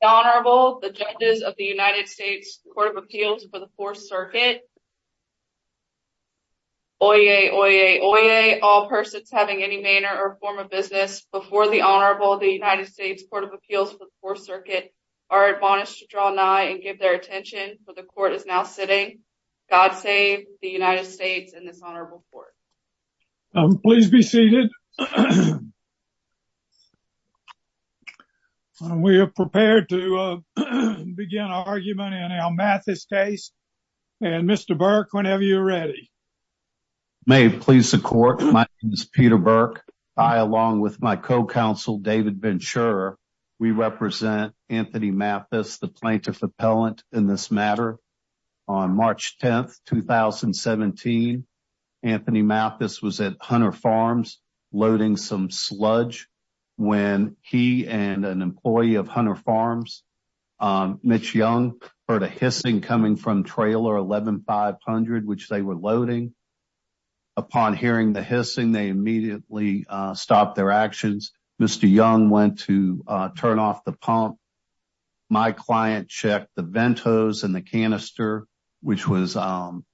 The Honorable, the judges of the United States Court of Appeals for the Fourth Circuit. Oyez, oyez, oyez, all persons having any manner or form of business before the Honorable of the United States Court of Appeals for the Fourth Circuit are admonished to draw nigh and give their attention for the court is now sitting. God save the United States and this Honorable Court. Um, please be seated. We are prepared to begin argument in our Mathis case. And Mr. Burke, whenever you're ready. May it please the court. My name is Peter Burke. I along with my co-counsel, David Ventura, we represent Anthony Mathis, the plaintiff appellant in this matter. On March 10th, 2017, Anthony Mathis was at Hunter Farms loading some sludge when he and an employee of Hunter Farms, Mitch Young, heard a hissing coming from trailer 11-500, which they were loading. Upon hearing the hissing, they immediately stopped their actions. Mr. Young went to turn off the pump. My client checked the vent hose and the canister, which was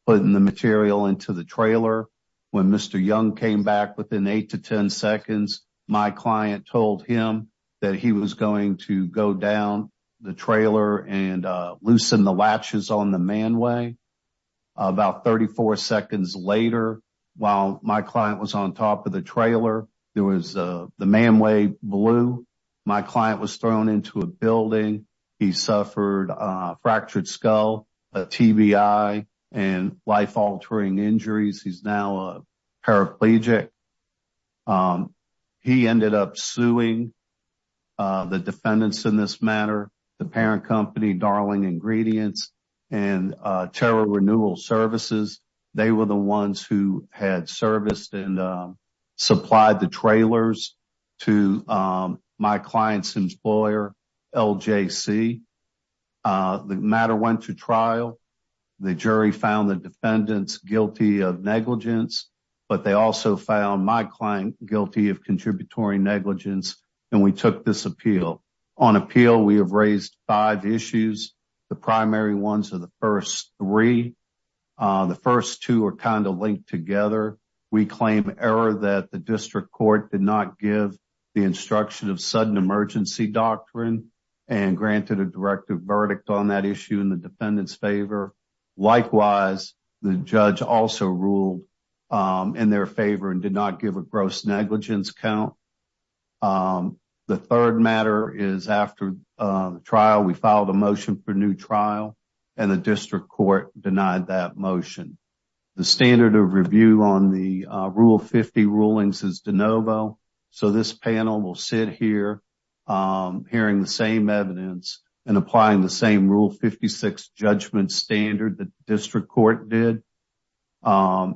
putting the material into the trailer. When Mr. Young came back within eight to 10 seconds, my client told him that he was going to go down the trailer and loosen the latches on the manway. About 34 seconds later, while my client was on top of the trailer, there was the manway blew. My client was thrown into a building. He suffered a fractured skull, a TBI, and life-altering injuries. He's now a paraplegic. He ended up suing the defendants in this matter, the parent company, Darling Ingredients, and Terra Renewal Services. They were the ones who had serviced and supplied the trailers to my client's employer, LJC. The matter went to trial. The jury found the defendants guilty of negligence, but they also found my client guilty of contributory negligence, and we took this appeal. On appeal, we have raised five issues. The primary ones are the first three. The first two are kind of linked together. We claim error that the district court did not give the instruction of sudden emergency doctrine and granted a directive verdict on that issue in the defendant's favor. Likewise, the judge also ruled in their favor and did not give a gross negligence count. The third matter is after the trial. We filed a motion for new trial, and the district court denied that motion. The standard of review on the Rule 50 rulings is de novo, so this panel will sit here hearing the same evidence and applying the same Rule 56 judgment standard that the district court did. As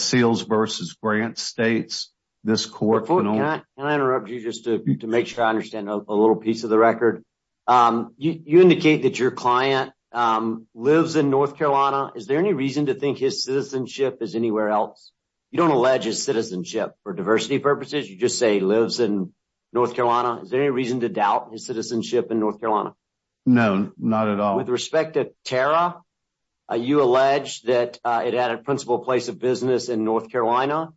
Seals v. Grant states, this court... Before I interrupt you, just to make sure I understand a little piece of the record, you indicate that your client lives in North Carolina. Is there any reason to think his citizenship is anywhere else? You don't allege his citizenship for diversity purposes. You just say he lives in North Carolina. Is there any reason to doubt his citizenship in North Carolina? No, not at all. With respect to Tara, you allege that it had a principal place of business in North Carolina.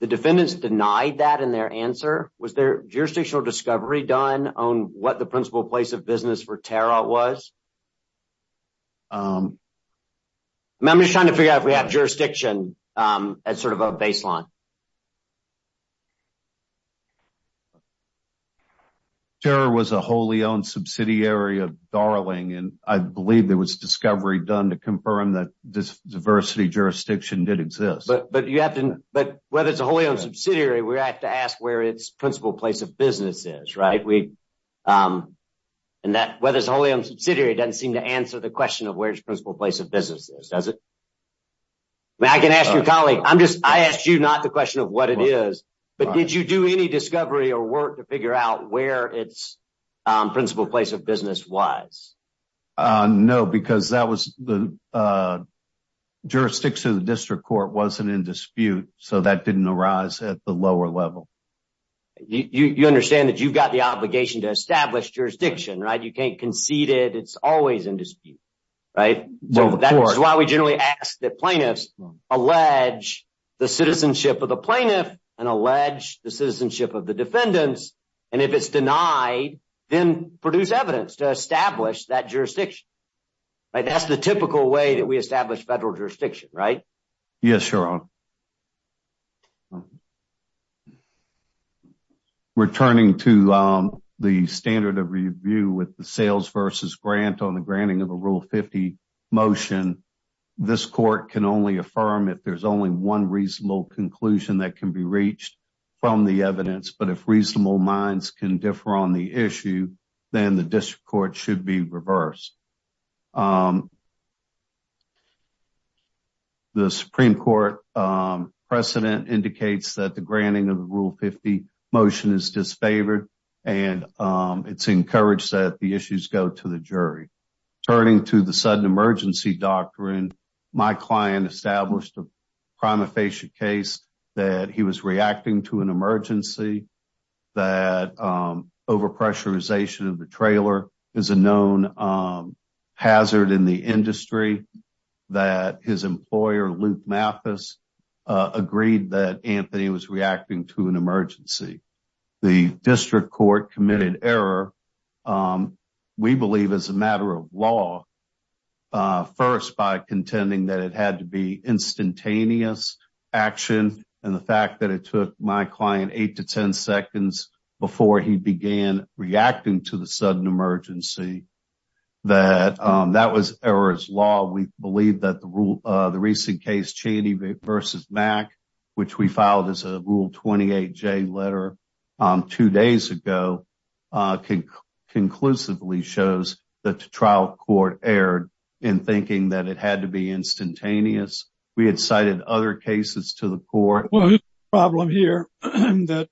The defendants denied that in their answer. Was there jurisdictional discovery done on what the principal place of business for Tara was? I'm just trying to figure out if we have to ask where its principal place of business is, right? Whether it's a wholly owned subsidiary doesn't seem to answer the question of where its principal place of business is, does it? I can ask your colleague. I asked you not the question of what it is, but did you do any discovery or work to figure out where its principal place of business was? No, because the jurisdiction of the district court wasn't in dispute, so that didn't arise at the lower level. You understand that you've got the obligation to establish jurisdiction, right? You can't concede it. It's always in dispute, right? That's why we generally ask that plaintiffs allege the citizenship of the plaintiff and allege the citizenship of the defendants, and if it's denied, then produce evidence to establish that jurisdiction. That's the typical way that we establish federal jurisdiction, right? Yes, Your Honor. Returning to the standard of review with the sales versus grant on the affirm, if there's only one reasonable conclusion that can be reached from the evidence, but if reasonable minds can differ on the issue, then the district court should be reversed. The Supreme Court precedent indicates that the granting of the Rule 50 motion is disfavored, and it's encouraged that the issues go to the jury. Turning to the sudden emergency doctrine, my client established a prima facie case that he was reacting to an emergency, that over-pressurization of the trailer is a known hazard in the industry, that his employer, Luke Mathis, agreed that Anthony was reacting to an emergency. The district court committed error, we believe, as a matter of law, first by contending that it had to be instantaneous action, and the fact that it took my client eight to ten seconds before he began reacting to the sudden emergency, that that was error's law. We believe that the recent case, Cheney versus Mack, which we filed as a Rule 28J letter two days ago, conclusively shows that the trial court erred in thinking that it had to be instantaneous. We had cited other cases to the court. Well, the problem here is that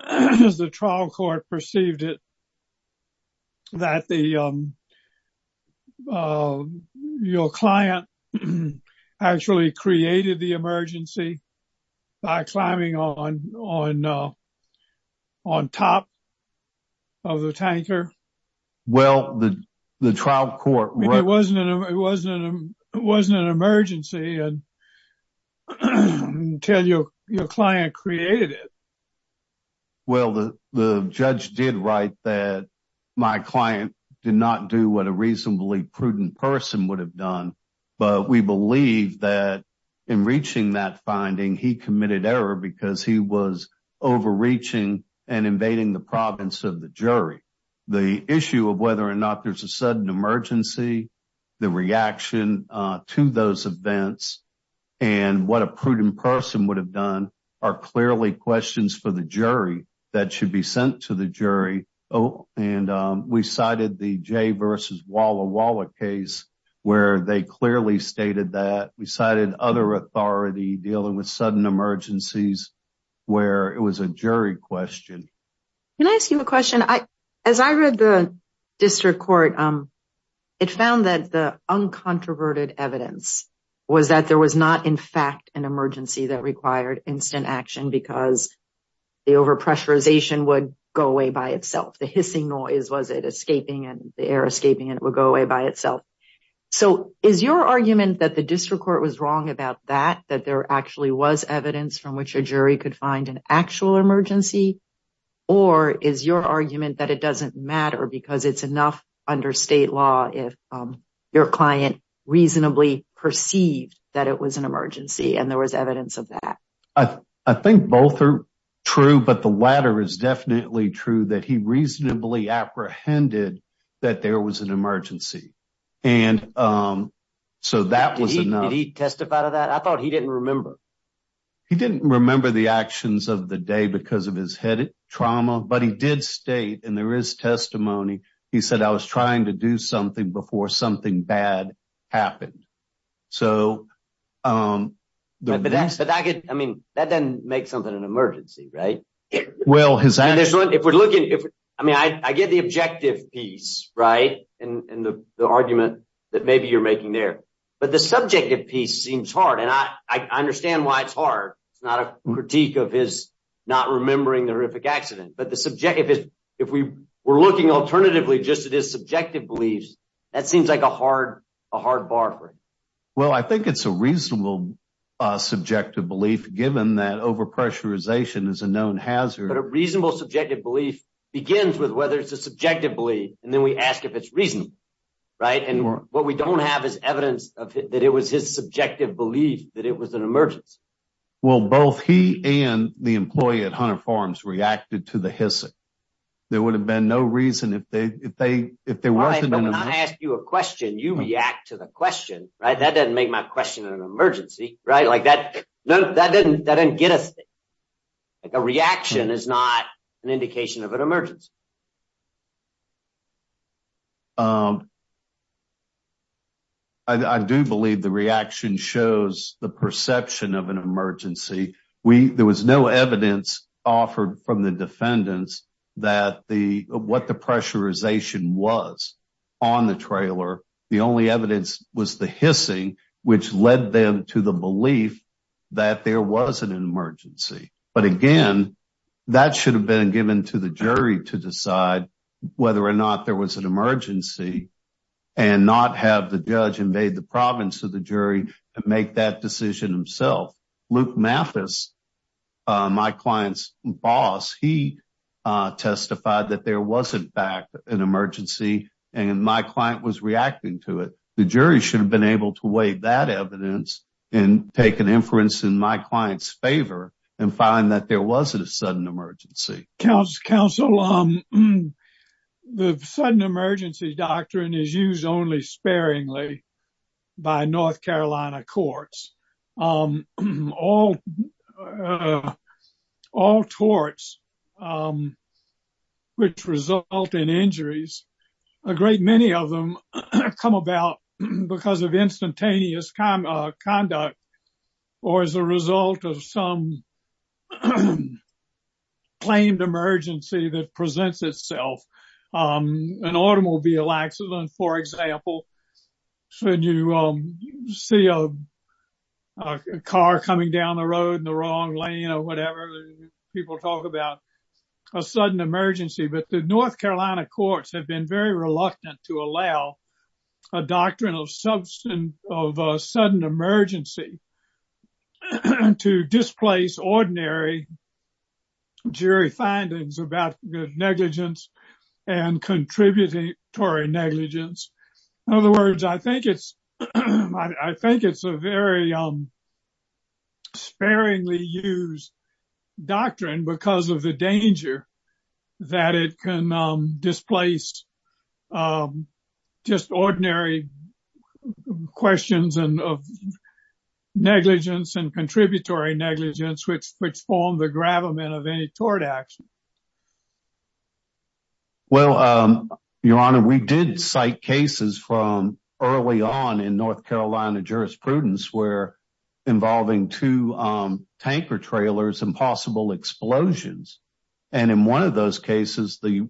the trial court perceived it that your client actually created the emergency by climbing on top of the tanker. Well, the trial court— It wasn't an emergency until your client created it. Well, the judge did write that my client did not do what a reasonably prudent person would have done, but we believe that in reaching that finding, he committed error because he was overreaching and invading the province of the jury. The issue of whether or not there's a sudden emergency, the reaction to those events, and what a prudent person would have done are clearly questions for the jury that should be sent to the jury, and we cited the Jay versus Walla Walla case where they clearly stated that. We cited other authority dealing with sudden emergencies where it was a jury question. Can I ask you a question? As I read the district court, it found that the uncontroverted evidence was that there was not, in fact, an emergency that required instant action because the overpressurization would go away by itself. The hissing noise was it escaping, and the air escaping, and it would go away by itself. So is your argument that the district court was wrong about that, that there actually was evidence from which a jury could find an actual emergency, or is your argument that it doesn't matter because it's enough under state law if your client reasonably perceived that it was an emergency and there was evidence of that? I think both are true, but the latter is definitely true, that he reasonably apprehended that there was an emergency, and so that was enough. Did he testify to that? I thought he didn't remember. He didn't remember the actions of the day because of his head trauma, but he did state, and there is testimony, he said, I was trying to do something before something bad happened. I mean, that doesn't make something an emergency, right? Well, I mean, I get the objective piece, right, and the argument that maybe you're making there, but the subjective piece seems hard, and I understand why it's hard. It's not a critique of his not remembering the horrific accident, but if we're looking alternatively just at his subjective beliefs, that seems like a hard bar to break. Well, I think it's a reasonable subjective belief, given that over-pressurization is a known hazard. But a reasonable subjective belief begins with whether it's a subjective belief, and then we ask if it's reasonable, right? And what we don't have is evidence that it was his subjective belief that it was an emergency. Well, both he and the employee at Hunter Farms reacted to the hissing. There would have been no reason if there wasn't an emergency. All right, but when I ask you a question, you react to the question, right? Like, that didn't get us there. Like, a reaction is not an indication of an emergency. I do believe the reaction shows the perception of an emergency. There was no evidence offered from the defendants that what the pressurization was on the trailer. The only evidence was the belief that there was an emergency. But again, that should have been given to the jury to decide whether or not there was an emergency, and not have the judge invade the province of the jury and make that decision himself. Luke Mathis, my client's boss, he testified that there was, in fact, an emergency, and my client was reacting to it. The jury should have been able to weigh that evidence and take an inference in my client's favor and find that there was a sudden emergency. Counsel, the sudden emergency doctrine is used only sparingly by North Carolina courts. All torts which result in injuries, a great many of them come about because of instantaneous conduct or as a result of some claimed emergency that presents itself. An automobile accident, for example, when you see a car coming down the road in the wrong lane or whatever, people talk about a sudden emergency. But the North Carolina courts have been very reluctant to allow a doctrine of sudden emergency to displace ordinary jury findings about negligence and contributory negligence. In other words, I think it's a very sparingly used doctrine because of the danger that it can displace just ordinary questions of negligence and contributory negligence, which form the gravamen of any tort action. Well, Your Honor, we did cite cases from early on in North Carolina jurisprudence where involving two tanker trailers and possible explosions. And in one of those cases, the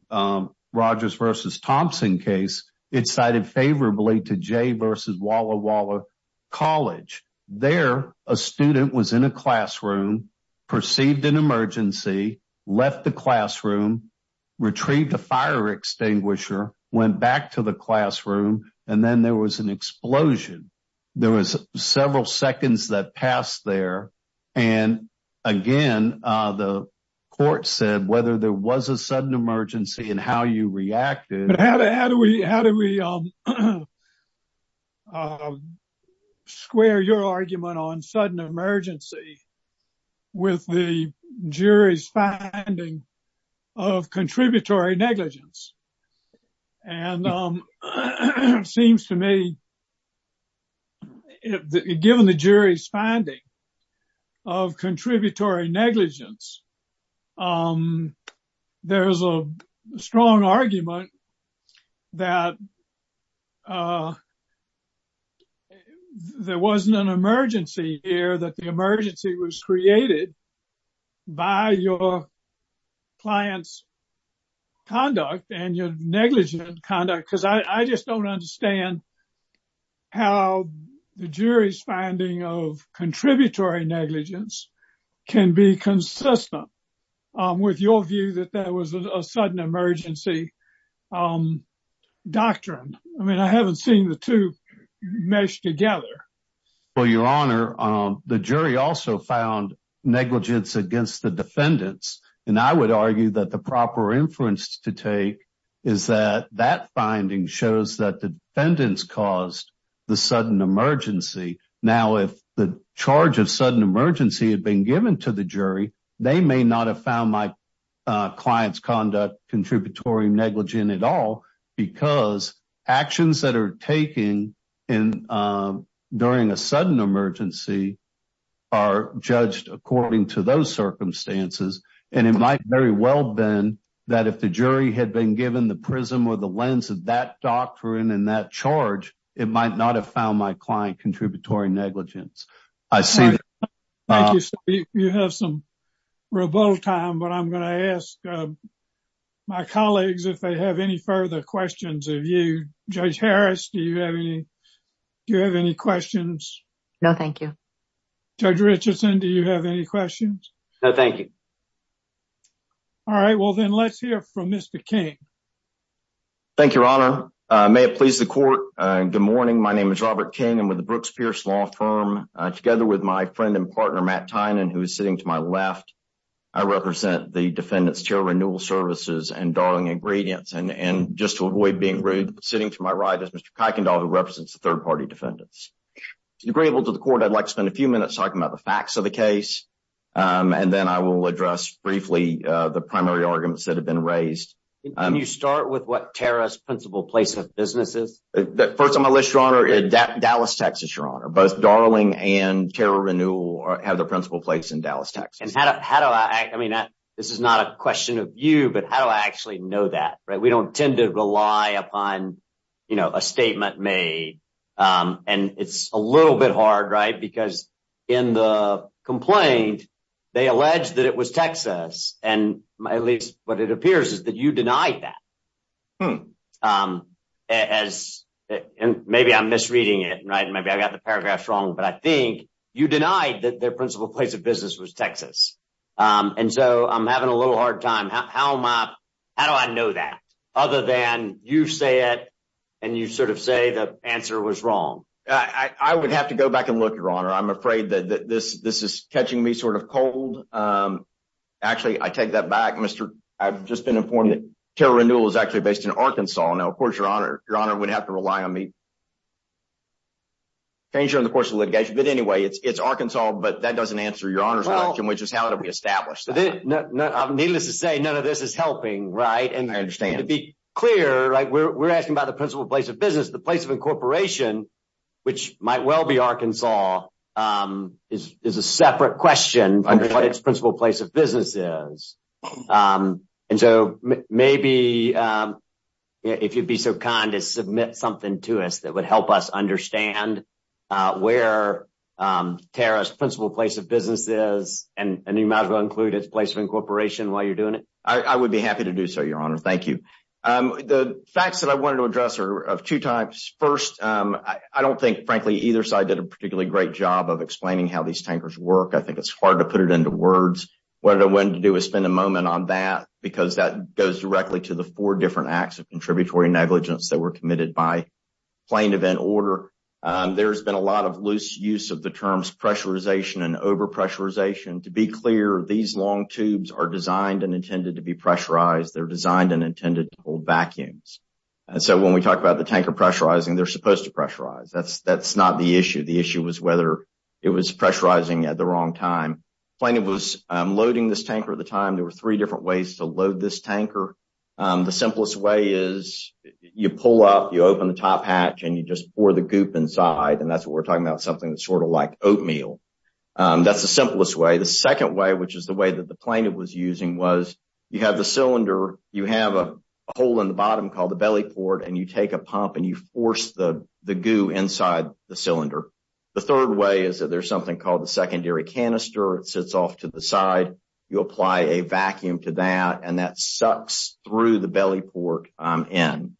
Rogers versus Thompson case, it cited favorably to J versus Walla Walla College. There, a student was in a classroom, perceived an emergency, left the classroom, retrieved a fire extinguisher, went back to the classroom, and then there was an explosion. There was several seconds that passed there. And again, the court said whether there was a sudden emergency and how you reacted. How do we square your argument on sudden emergency with the jury's finding of contributory negligence? And it seems to me, given the jury's finding of contributory negligence, there's a strong argument that there wasn't an emergency here, that the emergency was created by your client's conduct and your negligent conduct. Because I just don't understand how the jury's finding of contributory negligence can be consistent with your view that there was a sudden emergency doctrine. I mean, I haven't seen the two mesh together. Well, Your Honor, the jury also found negligence against the defendants. And I would argue that proper inference to take is that that finding shows that the defendants caused the sudden emergency. Now, if the charge of sudden emergency had been given to the jury, they may not have found my client's conduct contributory negligent at all because actions that are taken during a that if the jury had been given the prism or the lens of that doctrine and that charge, it might not have found my client contributory negligence. Thank you, sir. You have some rebuttal time, but I'm going to ask my colleagues if they have any further questions of you. Judge Harris, do you have any questions? No, thank you. Judge Richardson, do you have any questions? No, thank you. All right, well, then let's hear from Mr. King. Thank you, Your Honor. May it please the court. Good morning. My name is Robert King. I'm with the Brooks Pierce Law Firm. Together with my friend and partner, Matt Tynan, who is sitting to my left, I represent the Defendant's Chair of Renewal Services and Darling Ingredients. And just to avoid being rude, sitting to my right is Mr. Kuykendall, who represents the third party defendants. To the great able to the court, I'd like to spend a few minutes talking about the briefly the primary arguments that have been raised. Can you start with what Tara's principal place of business is? First on my list, Your Honor, is Dallas, Texas, Your Honor. Both Darling and Tara Renewal have their principal place in Dallas, Texas. And how do I, I mean, this is not a question of you, but how do I actually know that, right? We don't tend to rely upon, you know, a statement made. And it's a little bit hard, right? Because in the complaint, they allege that it was Texas. And at least what it appears is that you denied that. And maybe I'm misreading it, right? Maybe I got the paragraphs wrong, but I think you denied that their principal place of business was Texas. And so I'm having a little hard time. How am I, how do I know that? Other than you say it and you sort of say the answer was wrong. I would have to go back and look, Your Honor. I'm afraid that this is catching me sort of cold. Actually, I take that back. I've just been informed that Tara Renewal is actually based in Arkansas. Now, of course, Your Honor, Your Honor would have to rely on me. Change during the course of litigation. But anyway, it's Arkansas, but that doesn't answer Your Honor's question, which is how do we establish that? Needless to say, none of this is helping, right? And to be clear, we're asking about the place of incorporation, which might well be Arkansas, is a separate question. And so maybe if you'd be so kind to submit something to us that would help us understand where Tara's principal place of business is, and you might as well include its place of incorporation while you're doing it. I would be happy to do so, Your Honor. Thank you. The facts that I wanted to address are of two types. First, I don't think, frankly, either side did a particularly great job of explaining how these tankers work. I think it's hard to put it into words. What I wanted to do is spend a moment on that, because that goes directly to the four different acts of contributory negligence that were committed by plain event order. There's been a lot of loose use of the terms pressurization and overpressurization. To be clear, these long tubes are designed and intended to be pressurized. They're designed and intended to hold vacuums. And so when we talk about the tanker pressurizing, they're supposed to pressurize. That's not the issue. The issue was whether it was pressurizing at the wrong time. Plaintiff was loading this tanker at the time. There were three different ways to load this tanker. The simplest way is you pull up, you open the top hatch, and you just pour the goop inside. And that's what we're talking about, something that's sort of like oatmeal. That's the simplest way. The second way, which is the way that the plaintiff was using, was you have the cylinder, you have a hole in the bottom called the belly port, and you take a pump and you force the goo inside the cylinder. The third way is that there's something called the secondary canister. It sits off to the side. You apply a vacuum to that, and that sucks through the belly port in.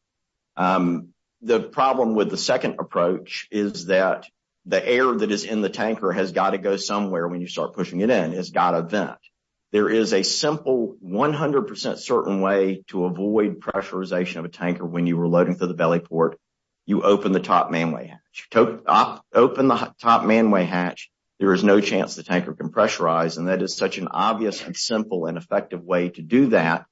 The problem with the second approach is that the air that is in the 100% certain way to avoid pressurization of a tanker when you were loading through the belly port, you open the top manway hatch. Open the top manway hatch, there is no chance the tanker can pressurize. And that is such an obvious and simple and effective way to do that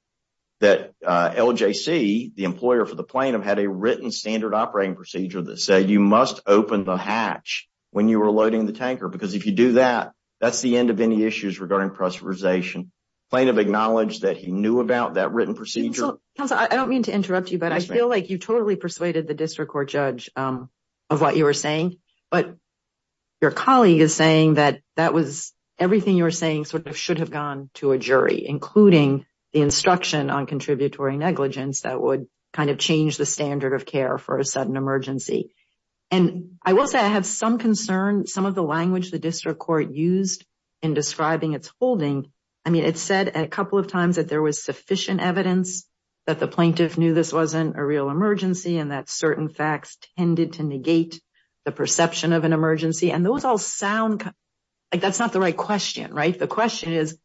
that LJC, the employer for the plaintiff, had a written standard operating procedure that said you must open the hatch when you were loading the tanker. Because if you do that, that's the end of any regarding pressurization. The plaintiff acknowledged that he knew about that written procedure. Counsel, I don't mean to interrupt you, but I feel like you totally persuaded the district court judge of what you were saying. But your colleague is saying that that was everything you were saying sort of should have gone to a jury, including the instruction on contributory negligence that would kind of change the standard of care for a sudden emergency. And I will say I have some concern, some of the language the district court used in describing its holding. I mean, it said a couple of times that there was sufficient evidence that the plaintiff knew this wasn't a real emergency and that certain facts tended to negate the perception of an emergency. And those all sound like that's not the right question, right? The question is,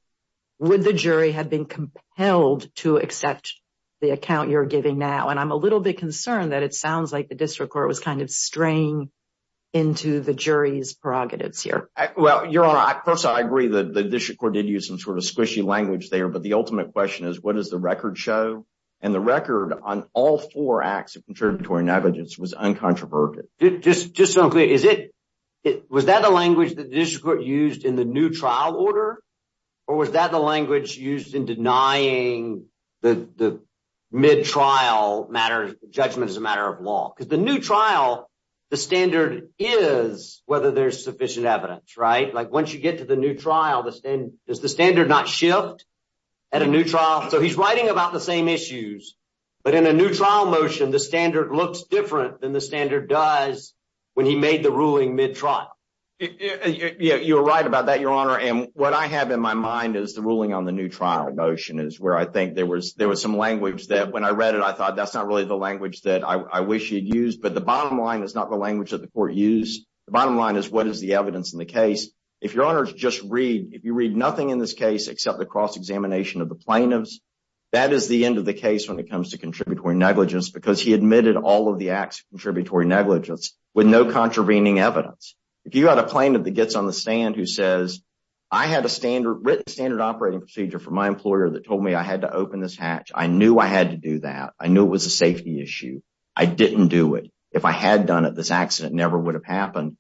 would the jury have been compelled to accept the account you're giving now? And I'm little bit concerned that it sounds like the district court was kind of straying into the jury's prerogatives here. Well, Your Honor, I personally agree that the district court did use some sort of squishy language there. But the ultimate question is, what does the record show? And the record on all four acts of contributory negligence was uncontroverted. Just so I'm clear, was that the language that the district court used in the new trial order? Or was that the language used in denying the mid-trial judgment as a matter of law? Because the new trial, the standard is whether there's sufficient evidence, right? Like once you get to the new trial, does the standard not shift at a new trial? So he's writing about the same issues. But in a new trial motion, the standard looks different than the standard does when he made the ruling mid-trial. Yeah, you're right about that, Your Honor. And what I have in my mind is the ruling on the new trial motion is where I think there was some language that when I read it, I thought, that's not really the language that I wish he'd used. But the bottom line is not the language that the court used. The bottom line is, what is the evidence in the case? If, Your Honor, if you read nothing in this case except the cross-examination of the plaintiffs, that is the end of the case when it comes to contributory negligence because he admitted all of the acts of contributory negligence with no contravening evidence. If you had a plaintiff that gets on the stand who says, I had a written standard operating procedure from my employer that told me I had to open this hatch. I knew I had to do that. I knew it was a safety issue. I didn't do it. If I had done it, this accident never would have happened.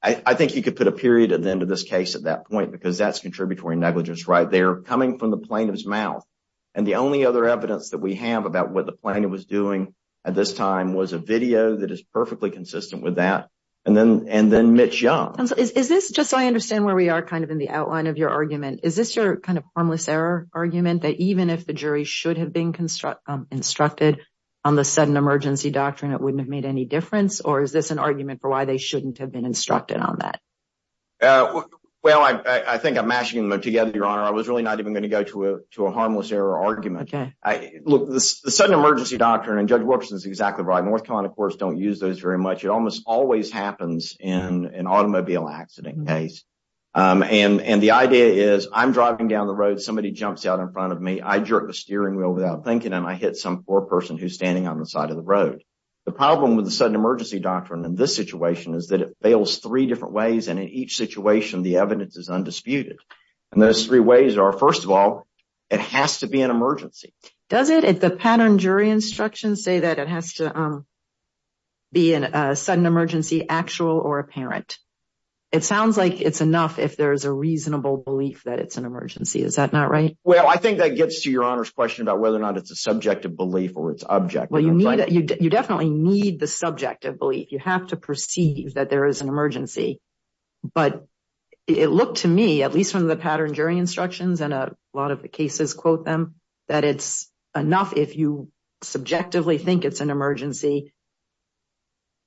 I think you could put a period at the end of this case at that point because that's contributory negligence right there coming from the plaintiff's mouth. And the only other evidence that we have about what the plaintiff was doing at this time was a video that is perfectly consistent with that. And then Mitch Young. Is this, just so I understand where we are in the outline of your argument, is this your harmless error argument that even if the jury should have been instructed on the sudden emergency doctrine, it wouldn't have made any difference? Or is this an argument for why they shouldn't have been instructed on that? Well, I think I'm mashing them together, Your Honor. I was really not even going to go to a harmless error argument. Look, the sudden emergency doctrine, and Judge Wilkerson is exactly right. North Carolina courts don't use those very much. It almost always happens in an automobile accident case. And the idea is, I'm driving down the road, somebody jumps out in front of me, I jerk the steering wheel without thinking, and I hit some poor person who's standing on the side of the road. The problem with the sudden emergency doctrine in this situation is that it fails three different ways. And in each situation, the evidence is undisputed. And those three ways are, first of all, it has to be an sudden emergency, actual or apparent. It sounds like it's enough if there's a reasonable belief that it's an emergency. Is that not right? Well, I think that gets to Your Honor's question about whether or not it's a subjective belief or it's objective. Well, you definitely need the subjective belief. You have to perceive that there is an emergency. But it looked to me, at least from the pattern jury instructions, and a lot of the cases quote them, that it's enough if you subjectively think it's an emergency,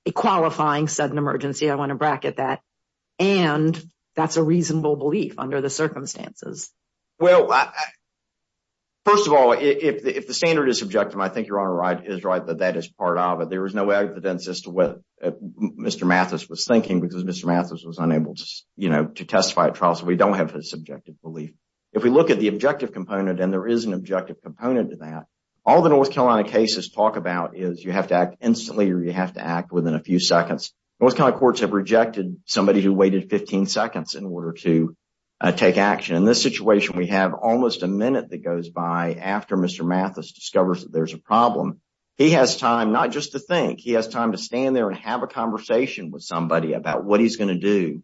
a qualifying sudden emergency, I want to bracket that, and that's a reasonable belief under the circumstances. Well, first of all, if the standard is subjective, I think Your Honor is right that that is part of it. There is no evidence as to what Mr. Mathis was thinking because Mr. Mathis was unable to testify at trial, so we don't have his subjective belief. If we look at the objective component, and there is an objective component to that, all the North Carolina cases talk about is you have to act instantly or you have to act within a few seconds. North Carolina courts have rejected somebody who waited 15 seconds in order to take action. In this situation, we have almost a minute that goes by after Mr. Mathis discovers that there's a problem. He has time not just to think, he has time to stand there and have a conversation with somebody about what he's going to do,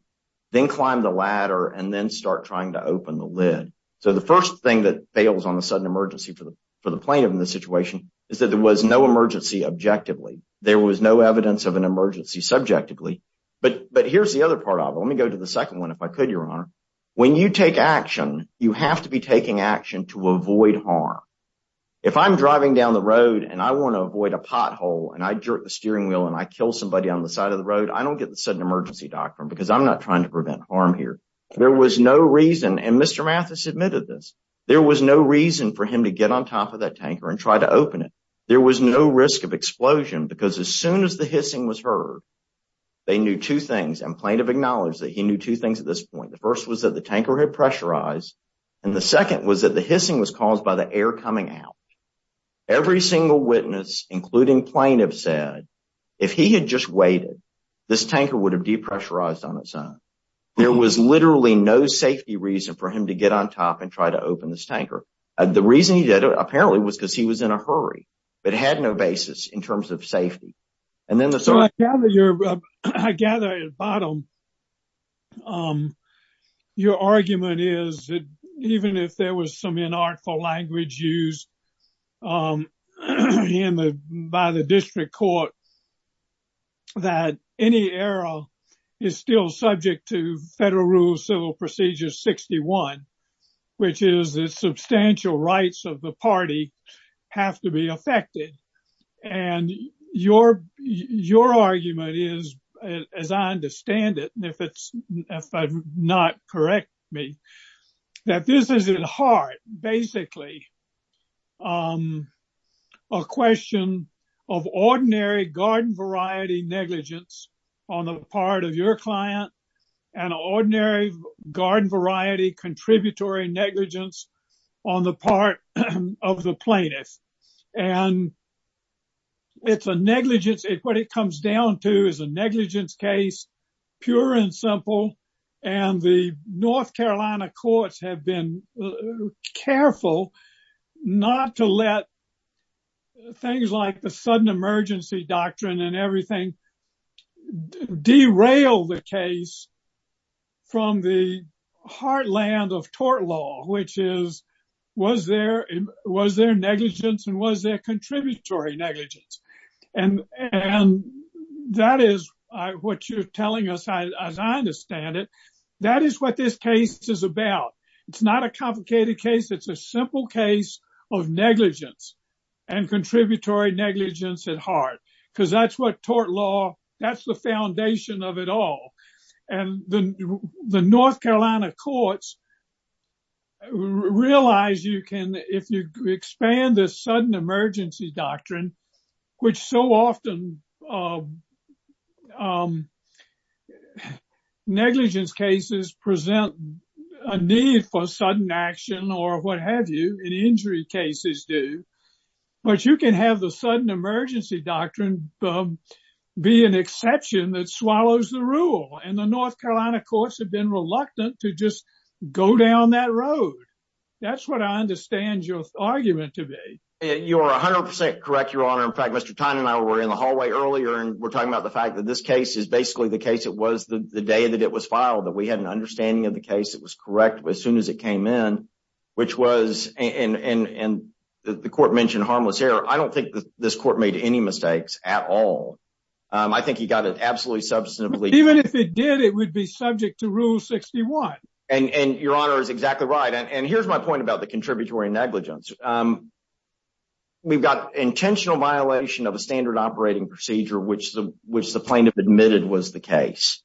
then climb the ladder, and then start trying to open the lid. So the first thing that fails on a sudden emergency for the plaintiff in this situation is that there was no emergency objectively. There was no evidence of an emergency subjectively, but here's the other part of it. Let me go to the second one if I could, Your Honor. When you take action, you have to be taking action to avoid harm. If I'm driving down the road and I want to avoid a pothole and I jerk the steering wheel and I kill somebody on the side of the road, I don't get the sudden emergency doctrine because I'm not trying to prevent harm here. There was no reason, and Mr. Mathis admitted this, there was no reason for him to get on top of that tanker and try to open it. There was no risk of explosion because as soon as the hissing was heard, they knew two things, and plaintiff acknowledged that he knew two things at this point. The first was that the tanker had pressurized, and the second was that the hissing was caused by the air coming out. Every single witness, including plaintiff, said if he had just waited, this tanker would have depressurized on its own. There was literally no safety reason for him to get on top and try to open this tanker. The reason he did it, apparently, was because he was in a hurry, but had no basis in terms of safety. I gather at the bottom, your argument is that even if there was some inartful language used by the district court, that any error is still subject to Federal Rule Civil Procedure 61, which is that substantial rights of the party have to be affected. Your argument is, as I understand it, and if I'm not correct, that this is at heart, basically, a question of ordinary garden variety negligence on the part of your client, and ordinary garden variety contributory negligence on the part of the plaintiff. What it comes down to is a negligence case, pure and simple, and the North Carolina courts have been careful not to let things like the sudden emergency doctrine and everything derail the case from the heartland of tort law, which is, was there negligence and was there contributory negligence? That is what you're telling us, as I understand it. That is what this case is about. It's not a complicated case. It's a simple case of negligence and contributory negligence at heart, because that's what tort law, that's the foundation of it all. The North Carolina courts realize you can, if you expand this sudden emergency doctrine, which so often negligence cases present a need for sudden action or what have you, and injury cases do, but you can have the sudden emergency doctrine be an exception that swallows the rule, and the North Carolina courts have been reluctant to just go down that road. That's what I understand your argument to be. You're 100% correct, Your Honor. In fact, Mr. Tynan and I were in the talking about the fact that this case is basically the case it was the day that it was filed, that we had an understanding of the case that was correct as soon as it came in, which was, and the court mentioned harmless error. I don't think this court made any mistakes at all. I think he got it absolutely substantively. Even if it did, it would be subject to Rule 61. Your Honor is exactly right. Here's my point about the contributory negligence. We've got intentional violation of a standard operating procedure, which the plaintiff admitted was the case.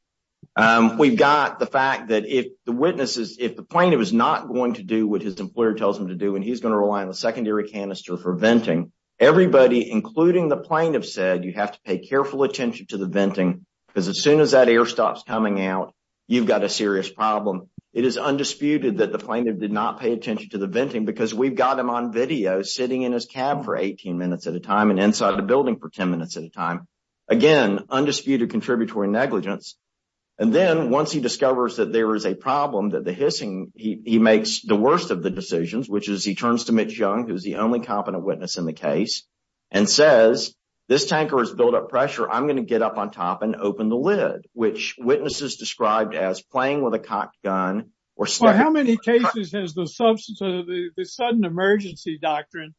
We've got the fact that if the witnesses, if the plaintiff is not going to do what his employer tells him to do, and he's going to rely on the secondary canister for venting, everybody, including the plaintiff, said you have to pay careful attention to the venting, because as soon as that air stops coming out, you've got a serious problem. It is undisputed that the plaintiff did not pay attention to the venting, because we've got him on video sitting in his cab for 18 minutes at a time and inside the building for 10 minutes at a time. Again, undisputed contributory negligence. And then once he discovers that there is a problem, that the hissing, he makes the worst of the decisions, which is he turns to Mitch Young, who's the only competent witness in the case, and says, this tanker has built up pressure. I'm going to get up on top and open the lid, which witnesses described as playing with a cocked gun. How many cases has the substance of the sudden emergency doctrine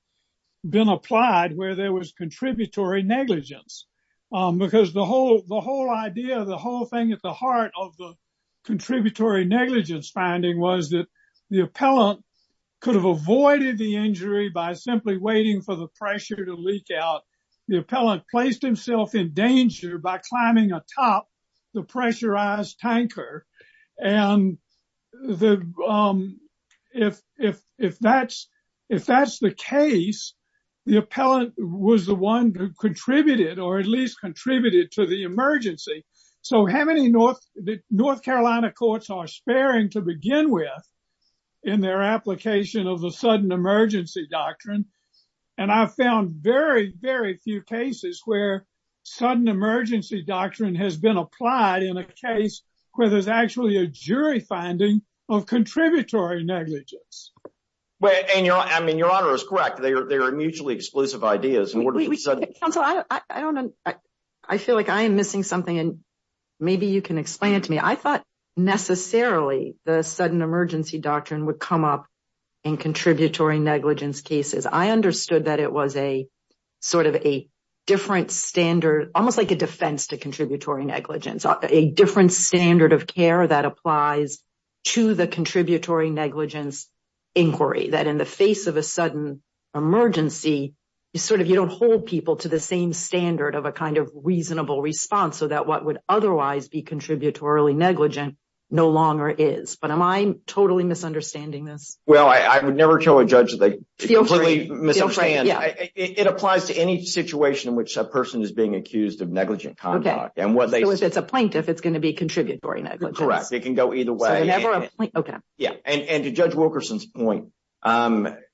been applied where there was contributory negligence? Because the whole idea, the whole thing at the heart of the contributory negligence finding was that the appellant could have avoided the injury by simply waiting for the pressure to leak out. The appellant placed himself in danger by climbing atop the pressurized tanker. And if that's the case, the appellant was the one who contributed or at least contributed to the emergency. So how many North Carolina courts are sparing to begin with in their application of the sudden emergency doctrine? And I've found very, very few cases where sudden emergency doctrine has been applied in a case where there's actually a jury finding of contributory negligence. Well, and your honor is correct. They are mutually exclusive ideas. Counsel, I feel like I am missing something and maybe you can explain it to me. I thought necessarily the sudden emergency doctrine would come up in contributory negligence cases. I understood that it was a sort of a different standard, almost like a defense to contributory negligence, a different standard of care that applies to the contributory negligence inquiry, that in the face of a sudden emergency, you don't hold people to the same standard of a kind of no longer is. But am I totally misunderstanding this? Well, I would never tell a judge that they completely misunderstand. It applies to any situation in which a person is being accused of negligent conduct. Okay. So it's a plaintiff, it's going to be contributory negligence. Correct. It can go either way. Okay. Yeah. And to Judge Wilkerson's point,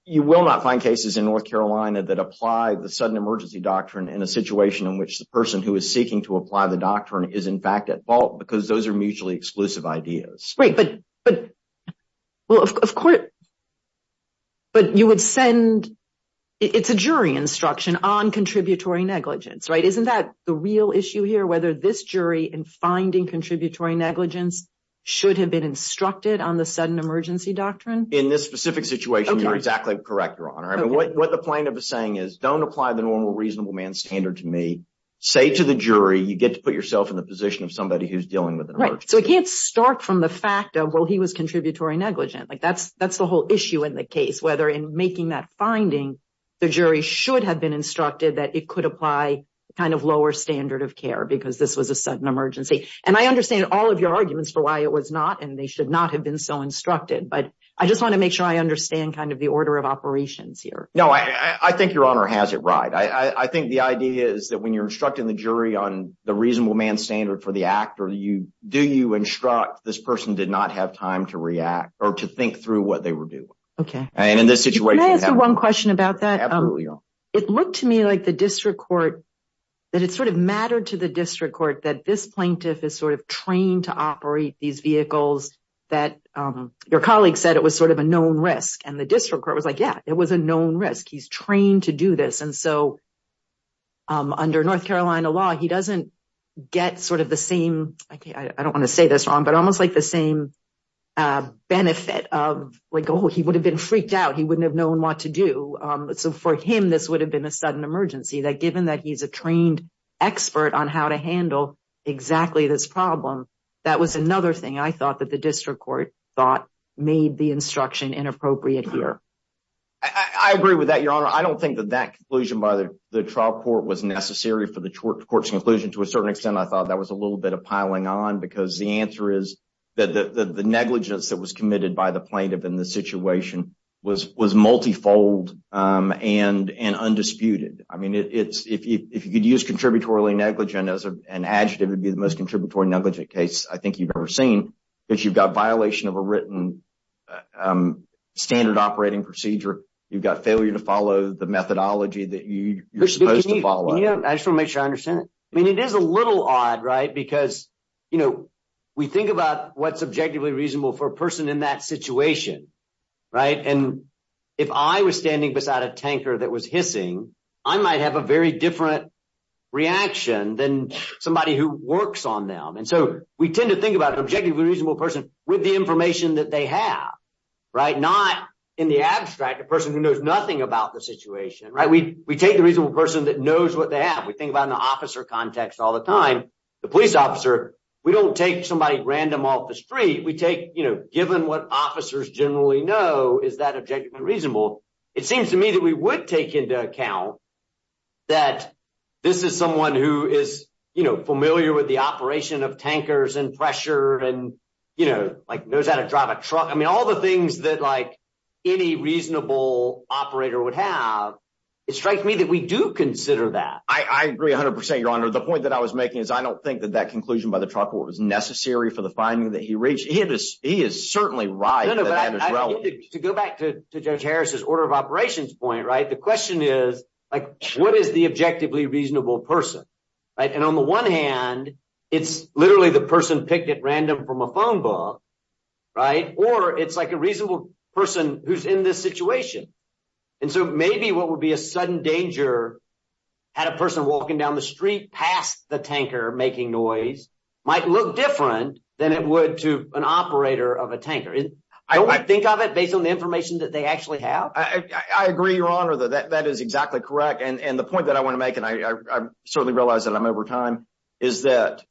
you will not find cases in North Carolina that apply the sudden emergency doctrine in a situation in which the person who is seeking to apply the doctrine is in fact at fault because those are mutually exclusive ideas. Right. But you would send, it's a jury instruction on contributory negligence, right? Isn't that the real issue here, whether this jury in finding contributory negligence should have been instructed on the sudden emergency doctrine? In this specific situation, you're exactly correct, Your Honor. I mean, what the plaintiff is saying is don't apply the normal reasonable man standard to me. Say to the jury, you get to put yourself in the position of somebody who's dealing with an emergency. Right. So it can't start from the fact of, well, he was contributory negligent. Like, that's the whole issue in the case, whether in making that finding, the jury should have been instructed that it could apply the kind of lower standard of care because this was a sudden emergency. And I understand all of your arguments for why it was not, and they should not have been so instructed. But I just want to make sure I understand kind of the order of operations here. No, I think Your Honor has it right. I think the idea is that when you're instructing the jury on the reasonable man standard for the act or you do you instruct this person did not have time to react or to think through what they were doing. Okay. And in this situation. Can I ask you one question about that? Absolutely, Your Honor. It looked to me like the district court, that it sort of mattered to the district court that this plaintiff is sort of trained to operate these vehicles that your colleague said it was sort of a known risk. And the district court was like, yeah, it was a known risk. He's trained to do this. And so under North Carolina law, he doesn't get sort of the same. Okay, I don't want to say this wrong, but almost like the same benefit of like, oh, he would have been freaked out. He wouldn't have known what to do. So for him, this would have been a sudden emergency that given that he's a trained expert on how to handle exactly this problem. That was another thing I thought that the district court thought made the instruction inappropriate here. I agree with that, Your Honor. I don't think that that conclusion by the trial court was necessary for the court's conclusion. To a certain extent, I thought that was a little bit of piling on because the answer is that the negligence that was committed by the plaintiff in the situation was multifold and undisputed. I mean, if you could use contributory negligent as an adjective, it would be the most contributory negligent case I think you've ever seen because you've got violation of a written standard operating procedure. You've got failure to follow the methodology that you're supposed to follow. I just want to make sure I understand it. I mean, it is a little odd, right? Because, you know, we think about what's objectively reasonable for a person in that situation, right? And if I was standing beside a tanker that was hissing, I might have a very different reaction than somebody who works on them. And so we tend to think about an objectively reasonable person with the information that they have, right? Not in the abstract, a person who knows nothing about the situation, right? We take the reasonable person that knows what they have. We think about in the officer context all the time, the police officer, we don't take somebody random off the street. We take, you know, given what officers generally know, is that objectively reasonable? It seems to me that we would take into account that this is someone who is, you know, familiar with the operation of tankers and pressure and, you know, like knows how to drive a truck. I mean, all the things that like any reasonable operator would have, it strikes me that we do consider that. I agree a hundred percent, your honor. The point that I was making is I don't think that that conclusion by the trucker was necessary for the finding that he reached. He is certainly right. To go back to Judge Harris's order of operations point, right? The question is, like, what is the objectively reasonable person, right? And on the one hand, it's literally the person picked at random from a phone book, right? Or it's like a reasonable person who's in this situation. And so maybe what would be a sudden danger had a person walking down the street past the tanker making noise might look different than it would to an operator of a tanker. I don't think of it based on the information that they actually have. I agree, your honor, that that is exactly correct. And the point that I want to make, and I certainly realize that I'm over time, is that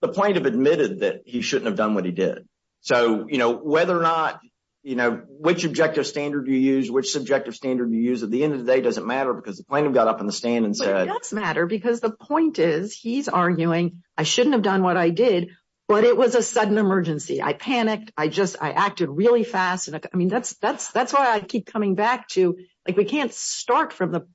the plaintiff admitted that he shouldn't have done what he did. So, you know, whether or not, you know, which objective standard you use, which subjective standard you use, at the end of the day, doesn't matter because the plaintiff got up on the stand and said... It does matter because the point is, he's arguing, I shouldn't have done what I did, but it was a sudden emergency. I panicked. I just, I acted really fast. And I mean, that's why I keep coming back to, like, we can't start from the...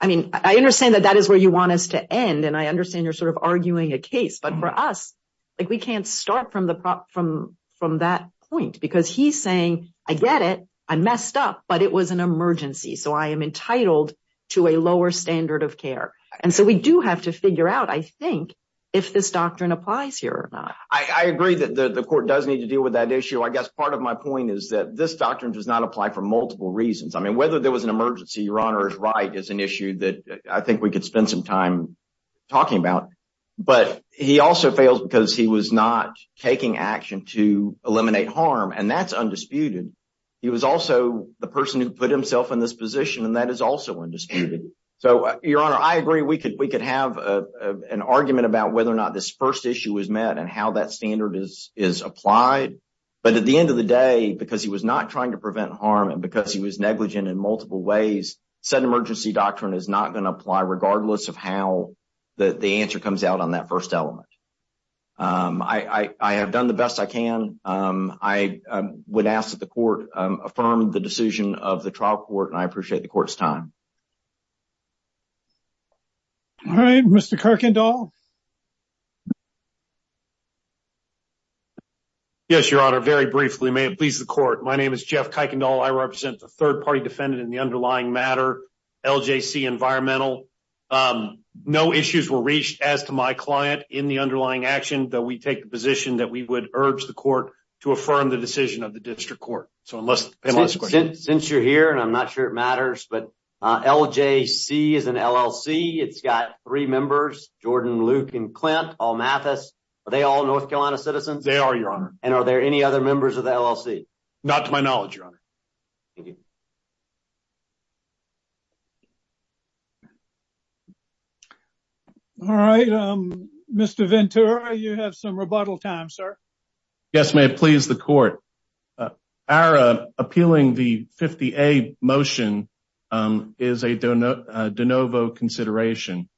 I mean, I understand that that is where you want us to end. And I understand you're sort of arguing a case. But for us, like, we can't start from that point because he's saying, I get it, I messed up, but it was an emergency. So I am entitled to a lower standard of care. And so we do have to figure out, I think, if this doctrine applies here or not. I agree that the court does need to deal with that issue. I guess part of my point is that this doctrine does not apply for multiple reasons. I mean, whether there was an emergency, your honor is right, is an issue that I think we could spend some time talking about. But he also failed because he was not taking action to put himself in this position. And that is also undisputed. So your honor, I agree we could have an argument about whether or not this first issue was met and how that standard is applied. But at the end of the day, because he was not trying to prevent harm and because he was negligent in multiple ways, sudden emergency doctrine is not going to apply regardless of how the answer comes out on that first element. I have done the best I can. I would ask that the court affirm the decision of the trial court and I appreciate the court's time. All right, Mr. Kuykendall. Yes, your honor. Very briefly, may it please the court. My name is Jeff Kuykendall. I represent the third party defendant in the underlying matter, LJC Environmental. No issues were reached as to my client in the underlying action that we take the position that we would urge the court to affirm the decision of the district court. So unless since you're here and I'm not sure it matters, but LJC is an LLC. It's got three members, Jordan, Luke and Clint all Mathis. Are they all North Carolina citizens? They are your honor. And are there any other members of the LLC? Not to my knowledge, your honor. Thank you. All right, Mr. Ventura, you have some rebuttal time, sir. Yes, may it please the court. Our appealing the 50 a motion is a de novo consideration.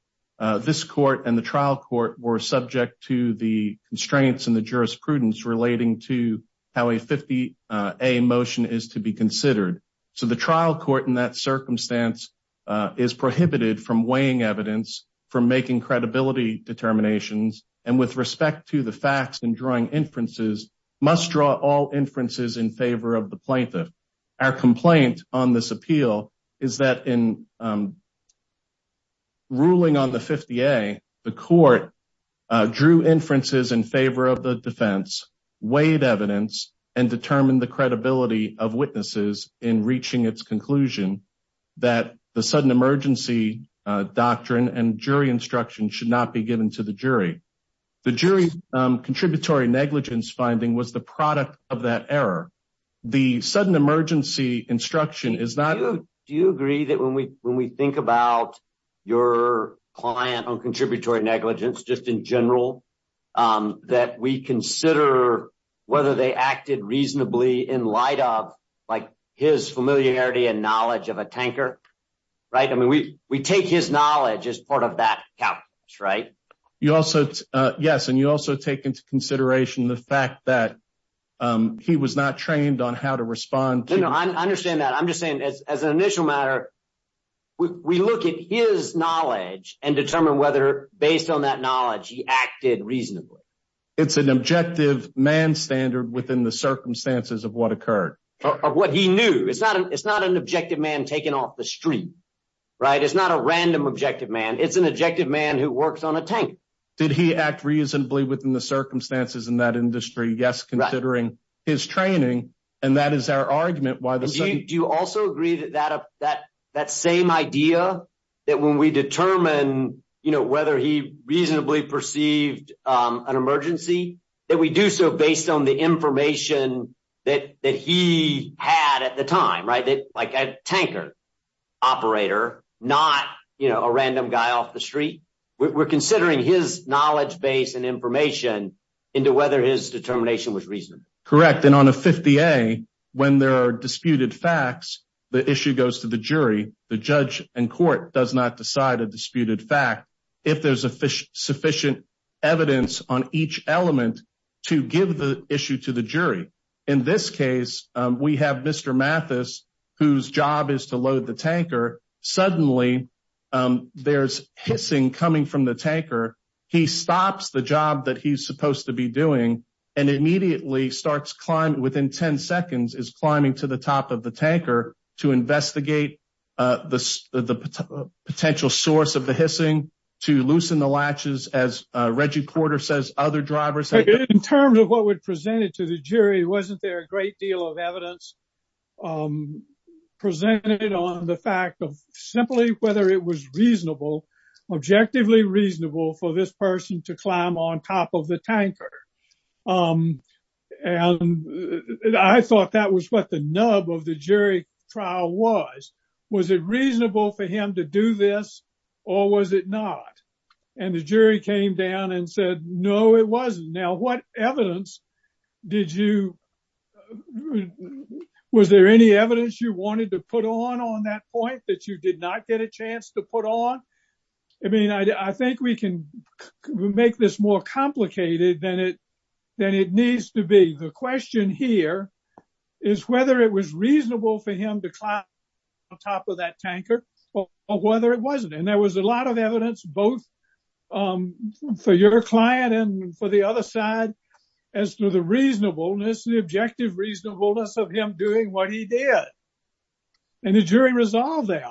This court and the trial court were subject to the constraints in the jurisprudence relating to how a 50 a motion is to be considered. So the trial court in that circumstance is prohibited from weighing evidence for making credibility determinations and with respect to the facts and drawing inferences must draw all inferences in favor of the plaintiff. Our complaint on this appeal is that in ruling on the 50 a the court drew inferences in favor of the defense weighed evidence and determined the credibility of witnesses in reaching its conclusion that the sudden emergency doctrine and jury instruction should not be given to the jury. The jury contributory negligence finding was the product of that error. The sudden emergency instruction is not. Do you agree that when we when we think about your client on contributory negligence, just in general, that we consider whether they acted reasonably in light of like his familiarity and knowledge of a tanker? Right. I mean, we we take his knowledge as part of that right. You also. Yes. And you also take into consideration the fact that he was not trained on how to respond. No, I understand that. I'm just saying as an initial matter, we look at his knowledge and determine whether based on that knowledge he acted reasonably. It's an objective man standard within the circumstances of what occurred or what he knew. It's not it's not an objective man taken off the street, right? It's not a random objective man. It's an objective man who works on a tank. Did he act reasonably within the circumstances in that industry? Yes, considering his training. And that is our argument. Why do you also agree that that that that same idea that when we determine, you know, whether he reasonably perceived an emergency, that we do so based on the information that that he had at the time, right? Like a tanker operator, not, you know, a random guy off the street. We're considering his knowledge base and information into whether his determination was reasonable. Correct. And on a 50A, when there are disputed facts, the issue goes to the jury. The judge and court does not decide a disputed fact. If there's a issue to the jury. In this case, we have Mr. Mathis, whose job is to load the tanker. Suddenly there's hissing coming from the tanker. He stops the job that he's supposed to be doing and immediately starts climbing. Within 10 seconds is climbing to the top of the tanker to investigate the potential source of the hissing, to loosen the latches, as Reggie Porter says, other drivers. In terms of what would present it to the jury, wasn't there a great deal of evidence presented on the fact of simply whether it was reasonable, objectively reasonable for this person to climb on top of the tanker. And I thought that was what the nub of the jury trial was. Was it reasonable for him to do this or was it not? And the jury came down and said, no, it wasn't. Now, what evidence did you, was there any evidence you wanted to put on on that point that you did not get a chance to put on? I mean, I think we can make this more complicated than it needs to be. The question here is whether it was reasonable for him to climb on top of that tanker or whether it wasn't. And there was a lot of evidence both for your client and for the other side as to the reasonableness, the objective reasonableness, of him doing what he did. And the jury resolved that.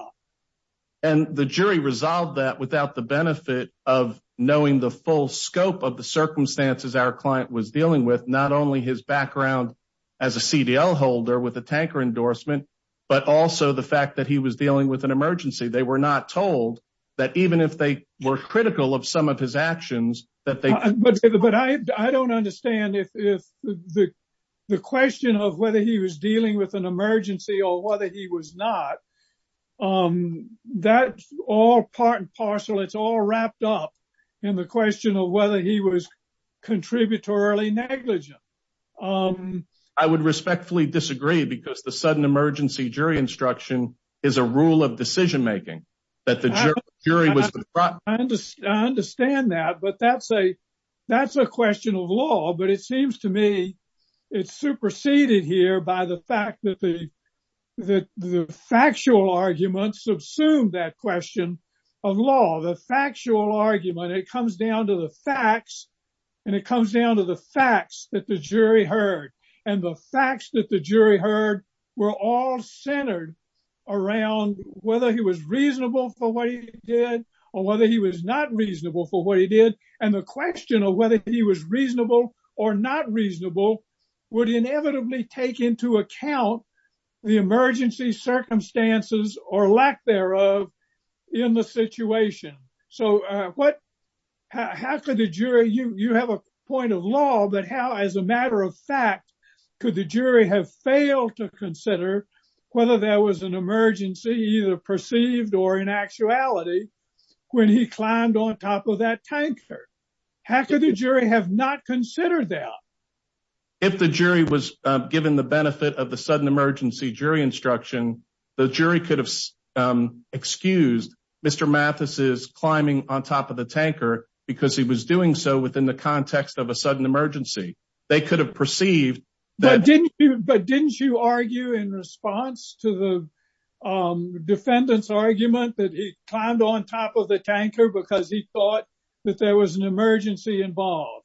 And the jury resolved that without the benefit of knowing the full scope of the circumstances our client was dealing with, not only his background as a CDL holder with a tanker endorsement, but also the fact that he was dealing with an emergency. They were not told that even if they were critical of some of his actions. But I don't understand if the question of whether he was dealing with an emergency or whether he was not, that's all part and parcel. It's all wrapped up in the question of whether he was contributory negligent. I would respectfully disagree because the sudden emergency jury instruction is a rule of decision making. I understand that, but that's a question of law. But it seems to me it's superseded here by the fact that the factual argument subsumed that question of law. The factual argument, it comes down to the facts and it comes down to the facts that the jury heard. And the facts that the jury heard were all centered around whether he was reasonable for what he did or whether he was not reasonable for what he did. And the question of whether he was reasonable or not reasonable would inevitably take into account the emergency circumstances or lack thereof in the situation. So how could the jury, you have a point of law, but how as a matter of fact could the jury have failed to consider whether there was an emergency either perceived or in actuality when he climbed on top of that tanker? How could the jury have not considered that? If the jury was given the benefit of the sudden emergency jury instruction, the jury could have excused Mr. Mathis's climbing on top of the tanker because he was doing so in the context of a sudden emergency. They could have perceived that. But didn't you argue in response to the defendant's argument that he climbed on top of the tanker because he thought that there was an emergency involved?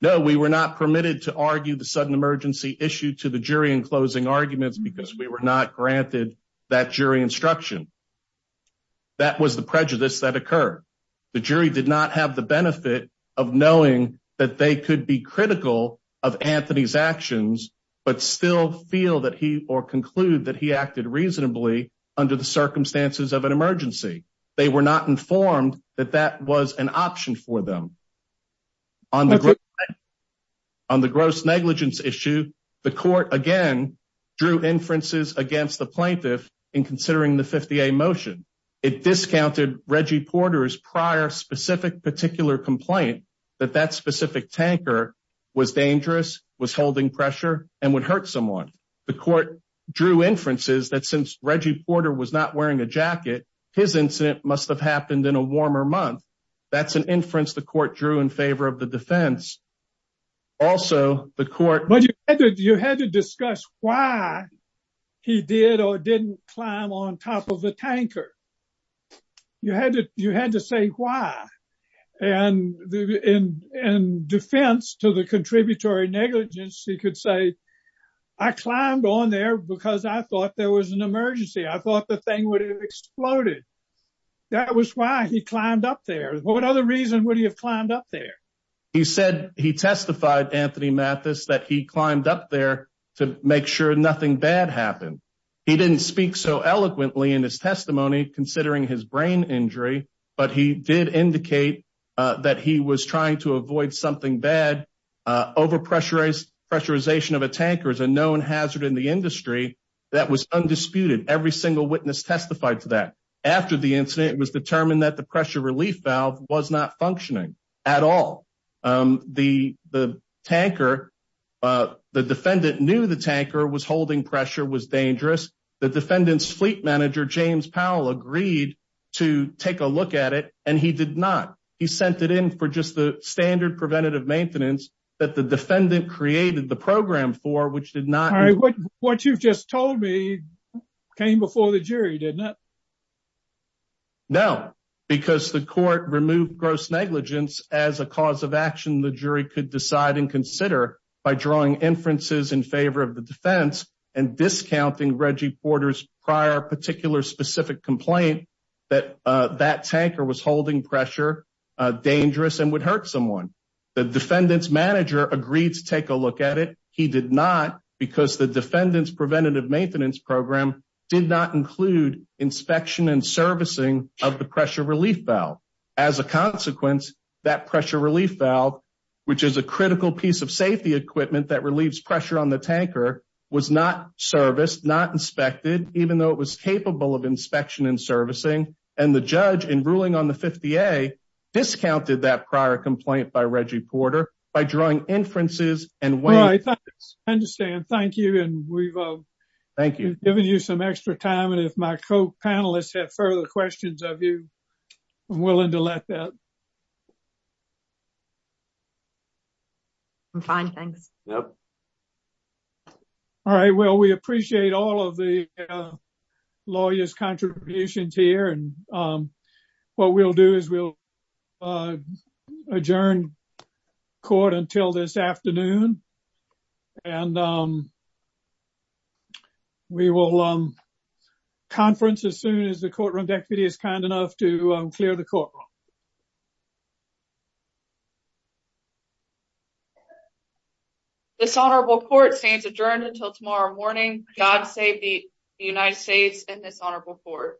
No, we were not permitted to argue the sudden emergency issue to the jury in closing arguments because we were not granted that jury instruction. That was the prejudice that occurred. The jury did not have the benefit of knowing that they could be critical of Anthony's actions but still feel that he or conclude that he acted reasonably under the circumstances of an emergency. They were not informed that that was an option for them. On the gross negligence issue, the court again drew inferences against the plaintiff in considering the 50A motion. It discounted Reggie Porter's prior specific particular complaint that that specific tanker was dangerous, was holding pressure, and would hurt someone. The court drew inferences that since Reggie Porter was not wearing a jacket, his incident must have happened in a warmer month. That's an inference the court drew in favor of the defense. But you had to discuss why he did or didn't climb on top of the tanker. You had to say why. In defense to the contributory negligence, he could say I climbed on there because I thought there was an emergency. I thought the thing would have exploded. That was why he climbed up there. What other reason would he have climbed up there? He said he testified, Anthony Mathis, that he climbed up there to make sure nothing bad happened. He didn't speak so eloquently in his testimony considering his brain injury, but he did indicate that he was trying to avoid something bad. Overpressurization of a tanker is a known hazard in the industry that was undisputed. Every single witness testified to that. After the incident, it was determined that the pressure relief valve was not functioning at all. The defendant knew the tanker was holding pressure, was dangerous. The defendant's fleet manager, James Powell, agreed to take a look at it, and he did not. He sent it in for just the standard preventative maintenance that the defendant created the program for, which did not What you've just told me came before the jury, didn't it? No, because the court removed gross negligence as a cause of action the jury could decide and consider by drawing inferences in favor of the defense and discounting Reggie Porter's prior particular specific complaint that that tanker was holding pressure, dangerous, and would hurt someone. The defendant's manager agreed to take a look at it. He did not because the defendant's preventative maintenance program did not include inspection and servicing of the pressure relief valve. As a consequence, that pressure relief valve, which is a critical piece of safety equipment that relieves pressure on the tanker, was not serviced, not inspected, even though it was capable of inspection and servicing, and the judge in ruling on the 50A discounted that prior complaint by Reggie Porter by drawing inferences and weight. I understand, thank you, and we've thank you given you some extra time, and if my co-panelists have further questions of you, I'm willing to let that. I'm fine, thanks. All right, well we appreciate all of the lawyer's contributions here, and what we'll do is we'll adjourn court until this afternoon, and we will conference as soon as the courtroom deputy is kind enough to clear the courtroom. This honorable court stands adjourned until tomorrow morning. God save the United States and this honorable court. you